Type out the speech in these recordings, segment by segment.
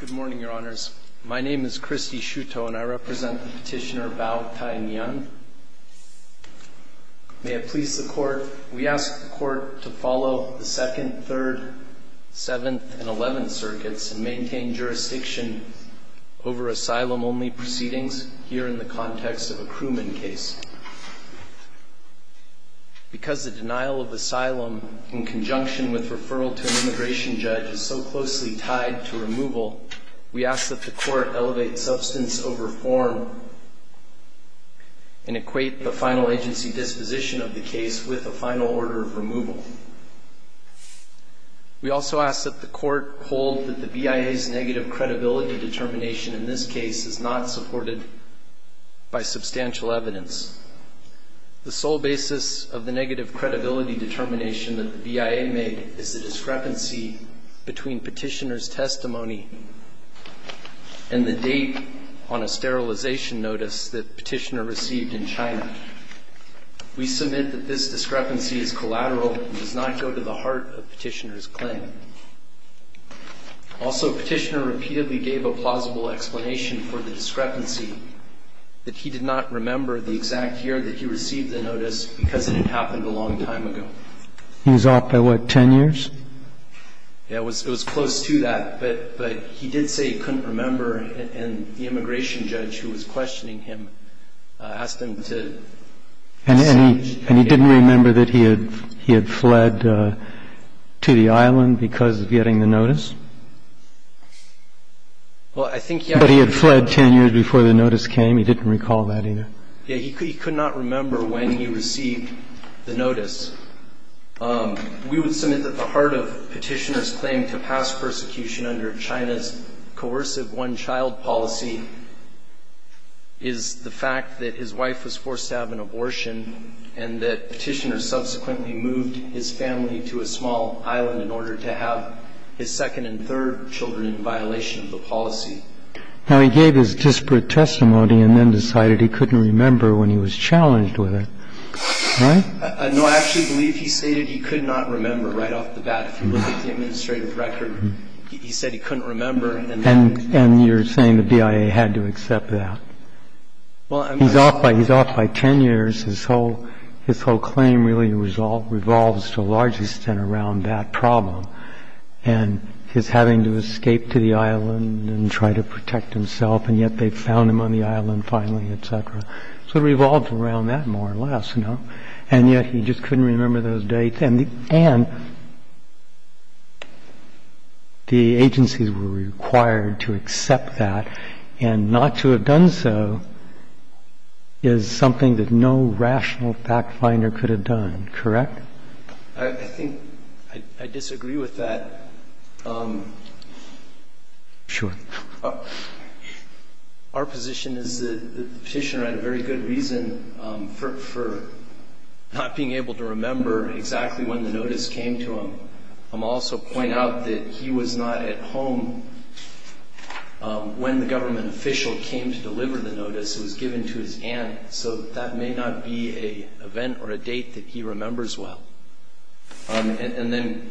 Good morning, Your Honors. My name is Christy Shuto, and I represent the petitioner Bao Tai Nian. May it please the Court, we ask the Court to follow the 2nd, 3rd, 7th, and 11th Circuits and maintain jurisdiction over asylum-only proceedings here in the context of a crewman case. Because the denial of asylum in conjunction with referral to an immigration judge is so closely tied to removal, we ask that the Court elevate substance over form and equate the final agency disposition of the case with a final order of removal. We also ask that the Court hold that the BIA's negative credibility determination in this case is not supported by substantial evidence. The sole basis of the negative credibility determination that the BIA made is the discrepancy between petitioner's testimony and the date on a sterilization notice that the petitioner received in China. We submit that this discrepancy is collateral and does not go to the heart of petitioner's claim. Also, petitioner repeatedly gave a plausible explanation for the discrepancy, that he did not remember the exact year that he received the notice because it had happened a long time ago. He was off by, what, 10 years? Yeah, it was close to that, but he did say he couldn't remember, and the immigration judge, who was questioning him, asked him to see if he could remember. And he didn't remember that he had fled to the island because of getting the notice? Well, I think he had. But he had fled 10 years before the notice came? He didn't recall that either? We would submit that the heart of petitioner's claim to pass persecution under China's coercive one-child policy is the fact that his wife was forced to have an abortion and that petitioner subsequently moved his family to a small island in order to have his second and third children in violation of the policy. Now, he gave his disparate testimony and then decided he couldn't remember when he was challenged with it, right? No, I actually believe he stated he could not remember right off the bat. If you look at the administrative record, he said he couldn't remember. And you're saying the BIA had to accept that? He's off by 10 years. His whole claim really revolves to a large extent around that problem and his having to escape to the island and try to protect himself, and yet they found him on the island finally, et cetera. So it revolved around that more or less, no? And yet he just couldn't remember those dates. And the agencies were required to accept that, and not to have done so is something that no rational fact-finder could have done, correct? I think I disagree with that. Sure. Our position is that the petitioner had a very good reason for not being able to remember exactly when the notice came to him. I'll also point out that he was not at home when the government official came to deliver the notice. It was given to his aunt, so that may not be an event or a date that he remembers well. And then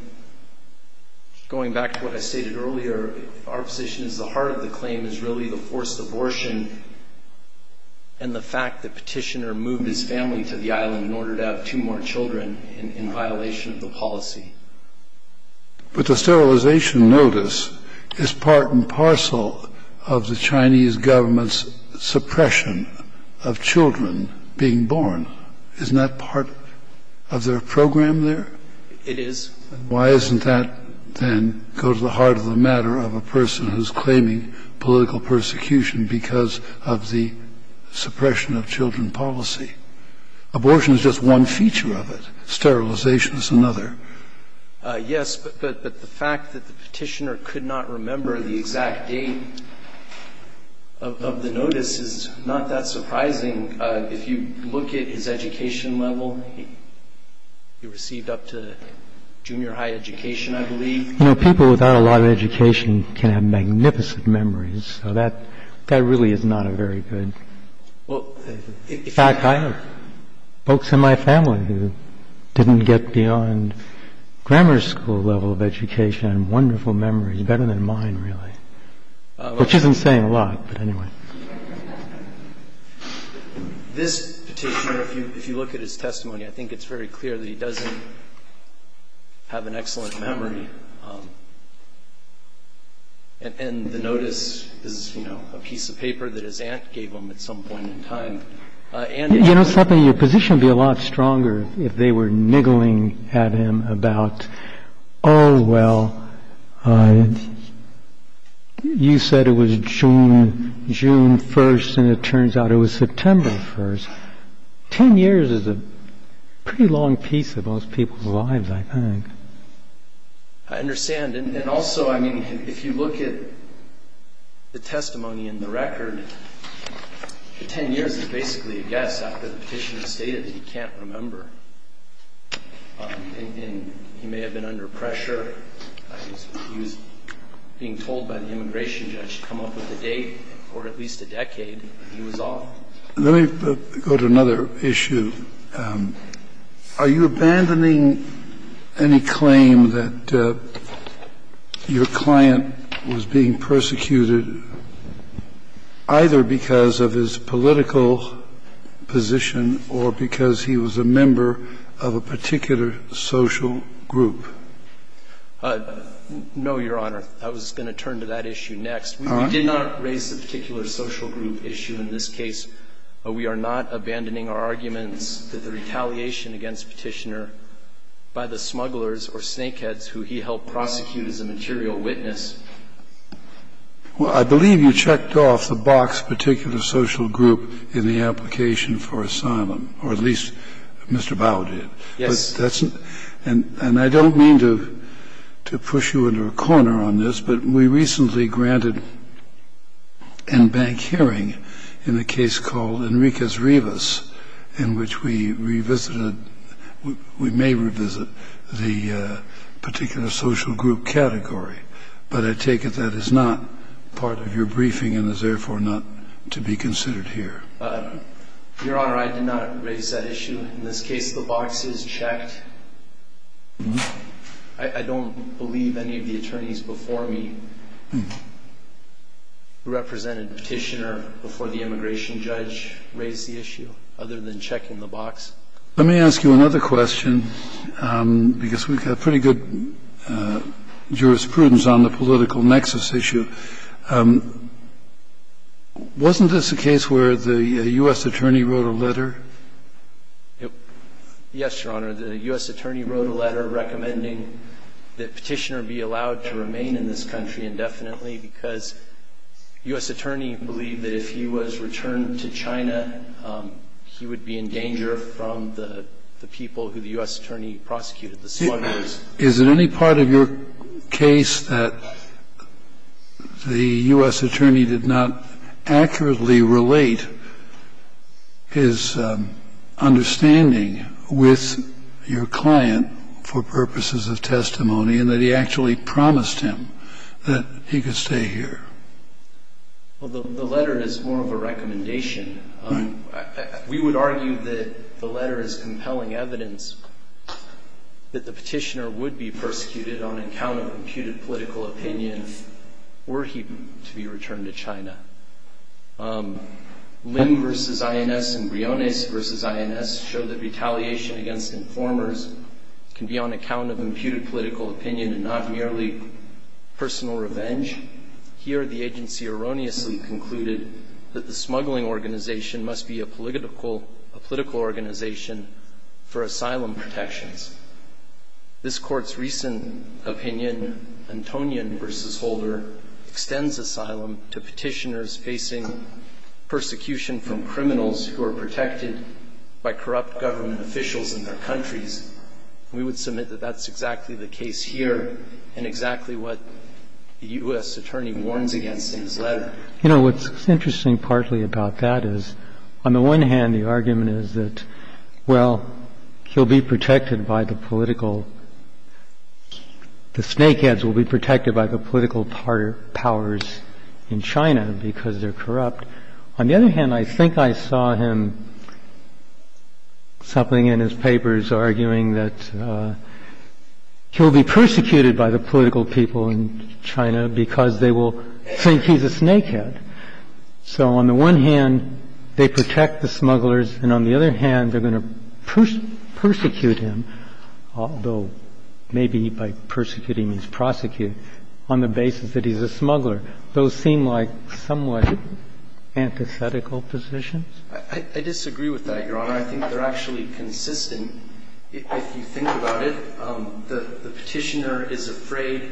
going back to what I stated earlier, our position is the heart of the claim is really the forced abortion and the fact the petitioner moved his family to the island in order to have two more children in violation of the policy. But the sterilization notice is part and parcel of the Chinese government's suppression of children being born. Isn't that part of their program there? It is. Why doesn't that then go to the heart of the matter of a person who's claiming political persecution because of the suppression of children policy? Abortion is just one feature of it. Sterilization is another. Yes, but the fact that the petitioner could not remember the exact date of the notice is not that surprising. If you look at his education level, he received up to junior high education, I believe. You know, people without a lot of education can have magnificent memories. So that really is not a very good fact. I have folks in my family who didn't get beyond grammar school level of education and wonderful memories, which isn't saying a lot, but anyway. This petitioner, if you look at his testimony, I think it's very clear that he doesn't have an excellent memory. And the notice is, you know, a piece of paper that his aunt gave him at some point in time. You know something, your position would be a lot stronger if they were niggling at him about, oh, well, you said it was June 1st and it turns out it was September 1st. Ten years is a pretty long piece of most people's lives, I think. I understand. And also, I mean, if you look at the testimony in the record, 10 years is basically a guess after the petitioner stated that he can't remember. And he may have been under pressure. He was being told by the immigration judge to come up with a date or at least a decade. He was off. Let me go to another issue. Are you abandoning any claim that your client was being persecuted either because of his political position or because he was a member of a particular social group? No, Your Honor. I was going to turn to that issue next. We did not raise the particular social group issue in this case. We are not abandoning our arguments that the retaliation against Petitioner by the smugglers or snakeheads who he helped prosecute as a material witness. Well, I believe you checked off the box particular social group in the application for asylum, or at least Mr. Bauer did. Yes. And I don't mean to push you into a corner on this, but we recently granted an in-bank hearing in a case called Enriquez-Rivas in which we may revisit the particular social group category. But I take it that is not part of your briefing and is therefore not to be considered here. Your Honor, I did not raise that issue. In this case, the box is checked. I don't believe any of the attorneys before me who represented Petitioner before the immigration judge raised the issue other than checking the box. Let me ask you another question, because we have pretty good jurisprudence on the political nexus issue. Wasn't this a case where the U.S. attorney wrote a letter? Yes, Your Honor. The U.S. attorney wrote a letter recommending that Petitioner be allowed to remain in this country indefinitely because U.S. attorney believed that if he was returned to China, he would be in danger from the people who the U.S. attorney prosecuted, the smugglers. Is it any part of your case that the U.S. attorney did not accurately relate his understanding with your client for purposes of testimony and that he actually promised him that he could stay here? Well, the letter is more of a recommendation. We would argue that the letter is compelling evidence that the Petitioner would be persecuted on account of imputed political opinion were he to be returned to China. Ling v. INS and Briones v. INS show that retaliation against informers can be on account of imputed political opinion and not merely personal revenge. Here the agency erroneously concluded that the smuggling organization must be a political organization for asylum protections. This Court's recent opinion, Antonin v. Holder, extends asylum to Petitioners facing persecution from criminals who are protected by corrupt government officials in their countries. We would submit that that's exactly the case here and exactly what the U.S. attorney warns against in his letter. You know, what's interesting partly about that is, on the one hand, the argument is that, well, he'll be protected by the political – the snakeheads will be protected by the political powers in China because they're corrupt. On the other hand, I think I saw him – something in his papers arguing that he'll be persecuted by the political people in China because they will think he's a snakehead. So on the one hand, they protect the smugglers, and on the other hand, they're going to on the basis that he's a smuggler. Those seem like somewhat antithetical positions. I disagree with that, Your Honor. I think they're actually consistent. If you think about it, the Petitioner is afraid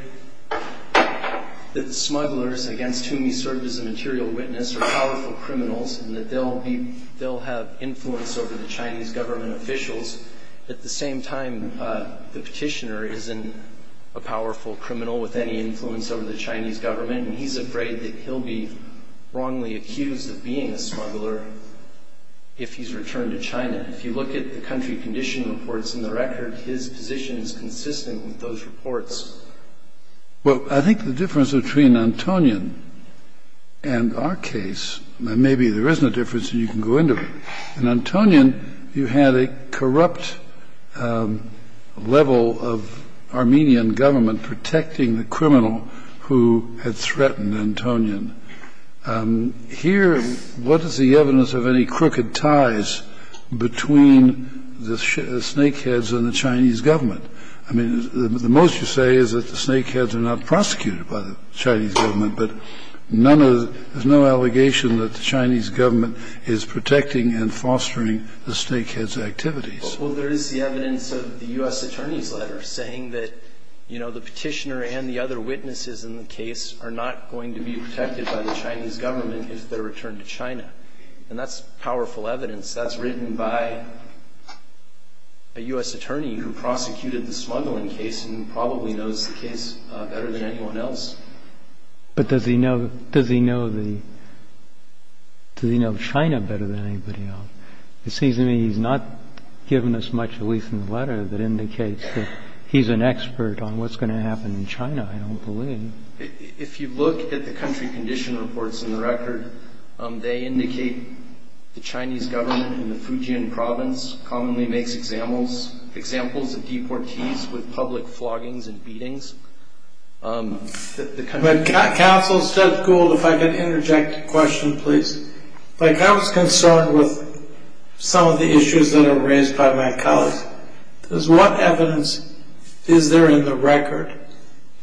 that smugglers against whom he served as a material witness are powerful criminals and that they'll be – they'll have influence over the Chinese government officials. At the same time, the Petitioner isn't a powerful criminal with any influence over the Chinese government, and he's afraid that he'll be wrongly accused of being a smuggler if he's returned to China. If you look at the country condition reports in the record, his position is consistent with those reports. Well, I think the difference between Antonin and our case – and maybe there isn't a difference and you can go into it. In Antonin, you had a corrupt level of Armenian government protecting the criminal who had threatened Antonin. Here, what is the evidence of any crooked ties between the snakeheads and the Chinese government? I mean, the most you say is that the snakeheads are not prosecuted by the Chinese government, but none of – there's no allegation that the Chinese government is protecting and fostering the snakeheads' activities. Well, there is the evidence of the U.S. Attorney's letter saying that, you know, the Petitioner and the other witnesses in the case are not going to be protected by the Chinese government if they're returned to China. And that's powerful evidence. That's written by a U.S. attorney who prosecuted the smuggling case and probably knows the case better than anyone else. But does he know China better than anybody else? It seems to me he's not given us much, at least in the letter, that indicates that he's an expert on what's going to happen in China, I don't believe. If you look at the country condition reports in the record, they indicate the Chinese government in the Fujian province commonly makes examples of deportees with public floggings and beatings. Counsel, Judge Gould, if I could interject a question, please. I was concerned with some of the issues that are raised by my colleagues. What evidence is there in the record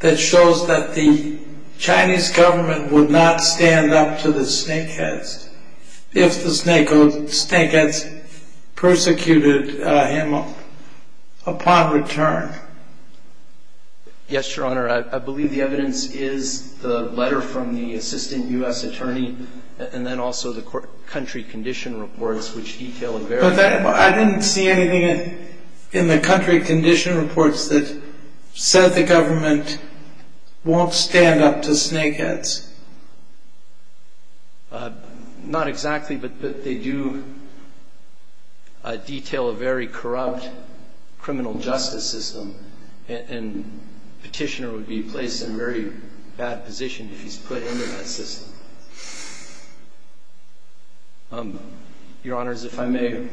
that shows that the Chinese government would not Yes, Your Honor, I believe the evidence is the letter from the assistant U.S. attorney and then also the country condition reports which detail a very But I didn't see anything in the country condition reports that said the government won't stand up to snake heads. Not exactly, but they do detail a very corrupt criminal justice system, and Petitioner would be placed in a very bad position if he's put into that system. Your Honors, if I may, I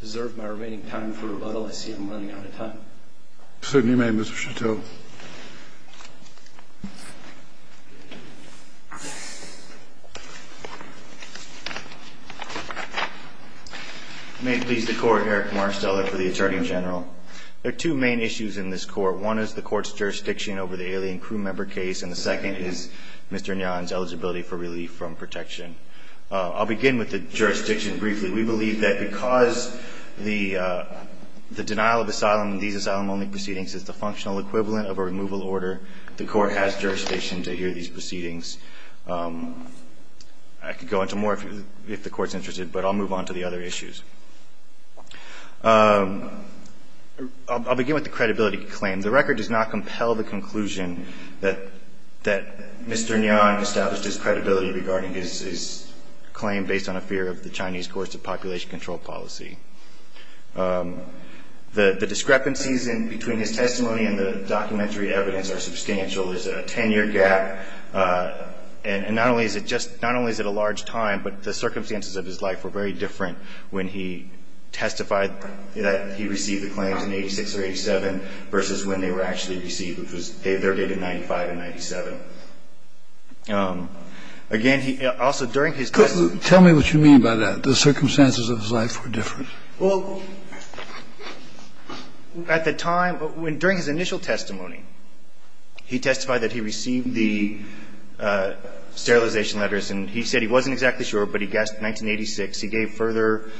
deserve my remaining time for rebuttal. I see I'm running out of time. If I may, Mr. Chateau. If I may please the Court, Eric Marsteller for the Attorney General. There are two main issues in this Court. One is the Court's jurisdiction over the alien crew member case, and the second is Mr. Nguyen's eligibility for relief from protection. I'll begin with the jurisdiction briefly. We believe that because the denial of asylum in these asylum-only proceedings is the functional equivalent of a removal order, the Court has jurisdiction to hear these proceedings. I could go into more if the Court's interested, but I'll move on to the other issues. I'll begin with the credibility claim. The record does not compel the conclusion that Mr. Nguyen established his credibility regarding his claim based on a fear of the Chinese course of population control policy. The discrepancies between his testimony and the documentary evidence are substantial. There's a 10-year gap, and not only is it a large time, but the circumstances of his life were very different when he testified that he received the claims in 86 or 87 versus when they were actually received, which was their date of 95 and 97. Again, he also, during his testimony. Tell me what you mean by that, the circumstances of his life were different. Well, at the time, during his initial testimony, he testified that he received the sterilization letters, and he said he wasn't exactly sure, but he guessed 1986. He gave further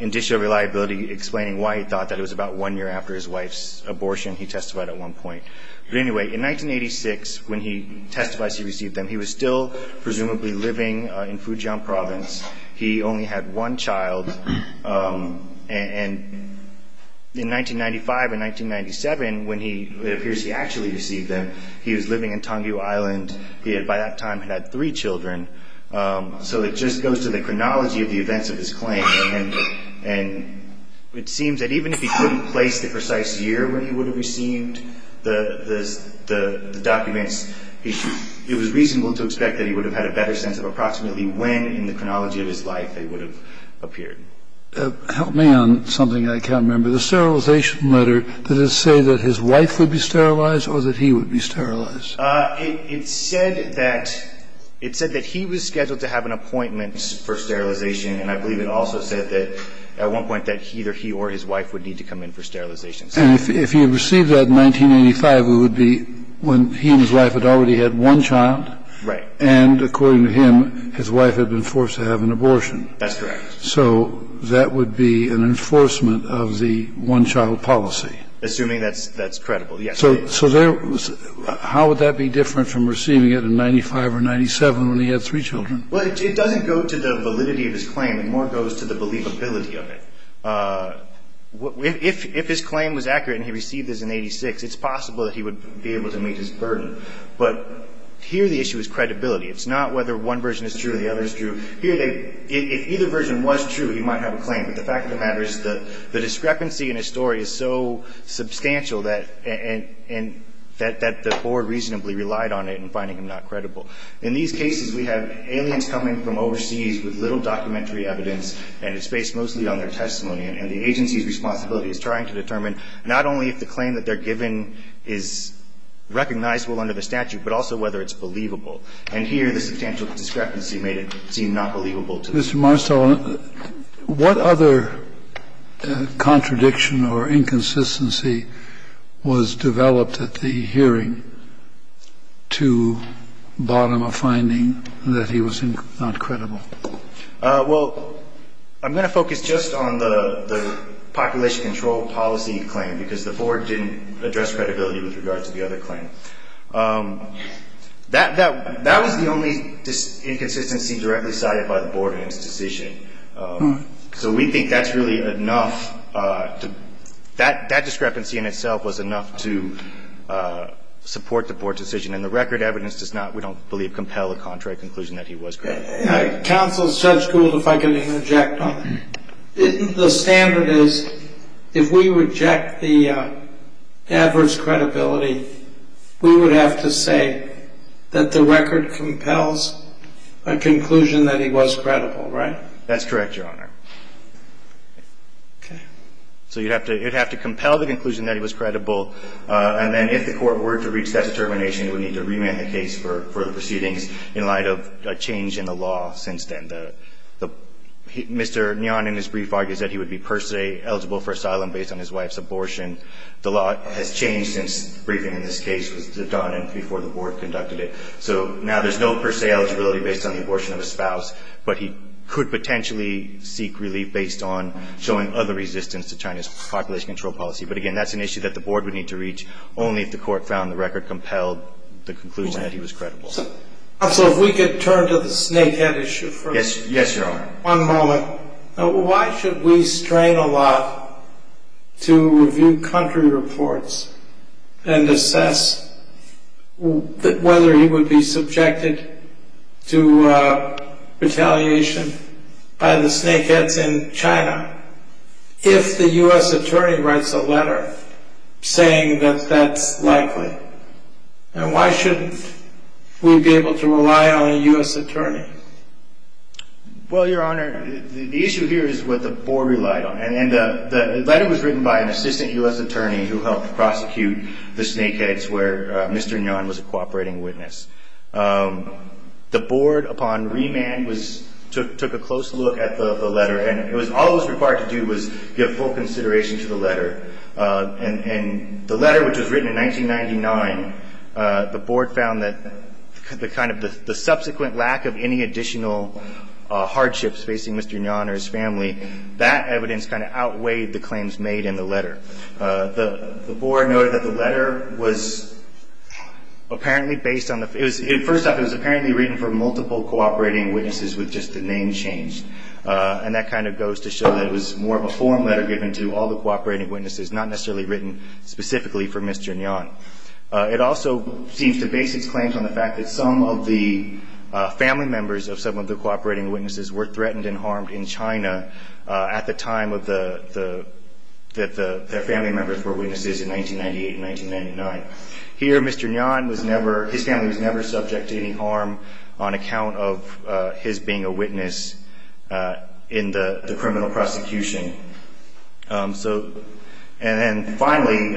indicia of reliability explaining why he thought that it was about one year after his wife's abortion, he testified at one point. But anyway, in 1986, when he testified he received them, he was still presumably living in Fujian province. He only had one child, and in 1995 and 1997, when it appears he actually received them, he was living in Tangyu Island. He had, by that time, had three children. So it just goes to the chronology of the events of his claim, and it seems that precise year when he would have received the documents, it was reasonable to expect that he would have had a better sense of approximately when in the chronology of his life they would have appeared. Help me on something I can't remember. The sterilization letter, did it say that his wife would be sterilized or that he would be sterilized? It said that he was scheduled to have an appointment for sterilization, and I And if he had received that in 1985, it would be when he and his wife had already had one child. Right. And according to him, his wife had been forced to have an abortion. That's correct. So that would be an enforcement of the one-child policy. Assuming that's credible, yes. So how would that be different from receiving it in 1995 or 1997 when he had three children? Well, it doesn't go to the validity of his claim. It more goes to the believability of it. If his claim was accurate and he received this in 1986, it's possible that he would be able to meet his burden. But here the issue is credibility. It's not whether one version is true or the other is true. If either version was true, he might have a claim. But the fact of the matter is the discrepancy in his story is so substantial that the board reasonably relied on it in finding him not credible. In these cases, we have aliens coming from overseas with little documentary evidence, and it's based mostly on their testimony. And the agency's responsibility is trying to determine not only if the claim that they're giving is recognizable under the statute, but also whether it's believable. And here the substantial discrepancy made it seem not believable to them. Mr. Marstall, what other contradiction or inconsistency was developed at the hearing to bottom a finding that he was not credible? Well, I'm going to focus just on the population control policy claim, because the board didn't address credibility with regard to the other claim. That was the only inconsistency directly cited by the board in its decision. So we think that's really enough. That discrepancy in itself was enough to support the board decision. And the record evidence does not, we don't believe, compel a contrary conclusion that he was credible. Counsel, if I could interject on that. The standard is if we reject the adverse credibility, we would have to say that the record compels a conclusion that he was credible, right? That's correct, Your Honor. So you'd have to compel the conclusion that he was credible, and then if the court were to reach that determination, it would need to remand the case for the proceedings in light of a change in the law since then. Mr. Nyon in his brief argues that he would be per se eligible for asylum based on his wife's abortion. The law has changed since the briefing in this case was done and before the board conducted it. So now there's no per se eligibility based on the abortion of a spouse, but he could potentially seek relief based on showing other resistance to China's population control policy. But, again, that's an issue that the board would need to reach only if the court found the record compelled the conclusion that he was credible. Counsel, if we could turn to the snakehead issue first. Yes, Your Honor. One moment. Why should we strain a lot to review country reports and assess whether he would be subjected to retaliation by the snakeheads in China if the U.S. attorney writes a letter saying that that's likely? And why shouldn't we be able to rely on a U.S. attorney? Well, Your Honor, the issue here is what the board relied on. And the letter was written by an assistant U.S. attorney who helped prosecute the snakeheads where Mr. Nyon was a cooperating witness. The board, upon remand, took a close look at the letter and all it was required to do was give full consideration to the letter. And the letter, which was written in 1999, the board found that the subsequent lack of any additional hardships facing Mr. Nyon or his family, that evidence kind of outweighed the claims made in the letter. The board noted that the letter was apparently based on the – first off, it was apparently written for multiple cooperating witnesses with just the name changed. And that kind of goes to show that it was more of a form letter given to all the cooperating witnesses, not necessarily written specifically for Mr. Nyon. It also seems to base its claims on the fact that some of the family members of some of the cooperating witnesses were threatened and harmed in China at the time that their family members were witnesses in 1998 and 1999. Here, Mr. Nyon was never – his family was never subject to any harm on account of his being a witness in the criminal prosecution. So – and then finally,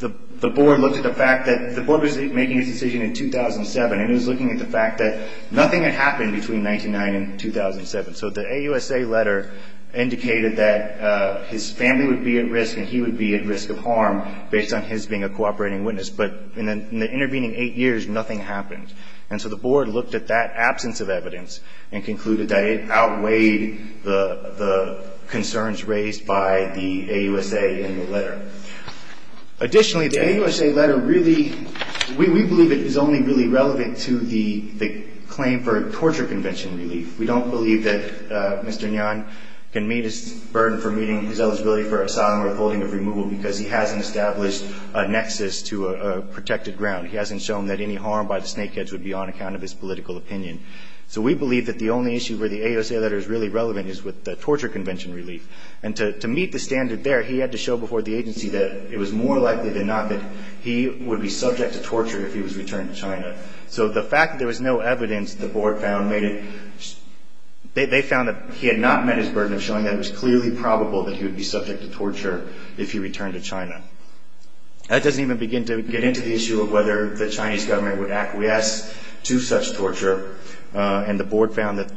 the board looked at the fact that – the board was making its decision in 2007 and it was looking at the fact that nothing had happened between 1999 and 2007. So the AUSA letter indicated that his family would be at risk and he would be at risk of harm based on his being a cooperating witness. But in the intervening eight years, nothing happened. And so the board looked at that absence of evidence and concluded that it outweighed the concerns raised by the AUSA in the letter. Additionally, the AUSA letter really – we believe it is only really relevant to the claim for torture convention relief. We don't believe that Mr. Nyon can meet his burden for meeting his eligibility for asylum or holding of removal because he hasn't established a nexus to a protected ground. He hasn't shown that any harm by the snakeheads would be on account of his political opinion. So we believe that the only issue where the AUSA letter is really relevant is with the torture convention relief. And to meet the standard there, he had to show before the agency that it was more likely than not that he would be subject to torture if he was returned to China. So the fact that there was no evidence, the board found made it – they found that he had not met his burden of showing that it was clearly probable that he would be subject to torture if he returned to China. That doesn't even begin to get into the issue of whether the Chinese government would acquiesce to such torture. And the board found that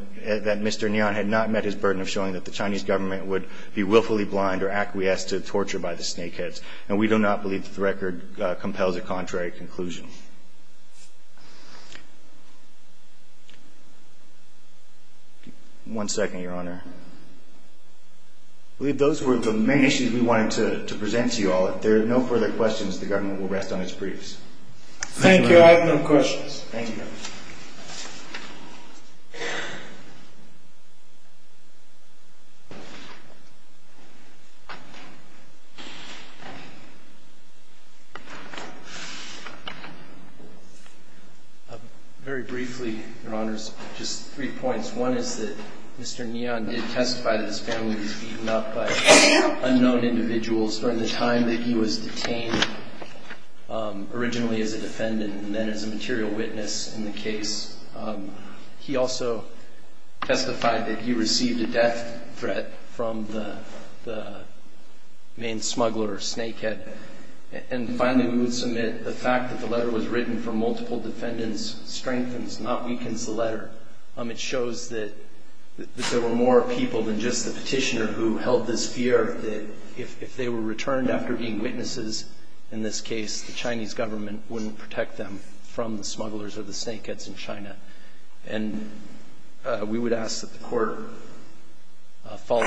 Mr. Nyon had not met his burden of showing that the Chinese government would be willfully blind or acquiesce to torture by the snakeheads. And we do not believe that the record compels a contrary conclusion. One second, Your Honor. I believe those were the main issues we wanted to present to you all. If there are no further questions, the government will rest on its briefs. Thank you. I have no questions. Very briefly, Your Honors, just three points. One is that Mr. Nyon did testify that his family was beaten up by unknown individuals during the time that he was detained, originally as a defendant and then as a material witness in the case. He also testified that he received a death threat from the main smuggler or snakehead. And finally, we would submit the fact that the letter was written from multiple defendants strengthens, not weakens, the letter. It shows that there were more people than just the petitioner who held this fear that if they were returned after being witnesses in this case, the Chinese government wouldn't protect them from the smugglers or the snakeheads in China. And we would ask that the court follow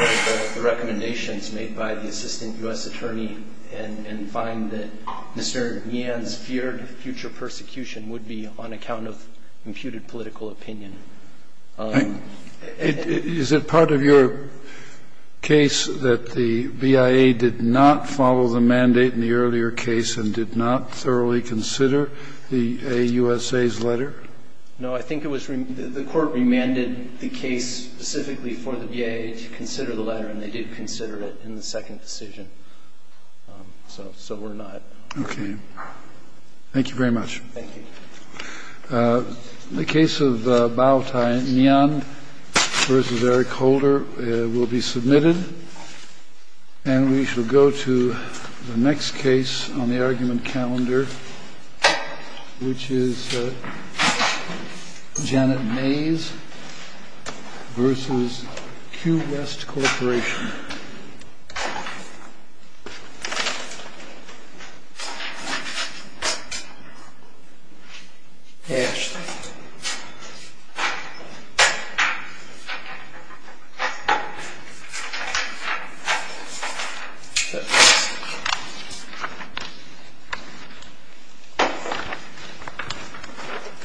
the recommendations made by the assistant U.S. attorney and find that Mr. Nyon's feared future persecution would be on account of imputed political opinion. Is it part of your case that the BIA did not follow the mandate in the earlier case and did not thoroughly consider the AUSA's letter? No. I think it was the court remanded the case specifically for the BIA to consider the letter, and they did consider it in the second decision. So we're not. Okay. Thank you very much. Thank you. The case of Bao Nyon v. Eric Holder will be submitted, and we shall go to the next case on the argument calendar, which is Janet Mays v. Q. West Corporation. Ashley. Thank you.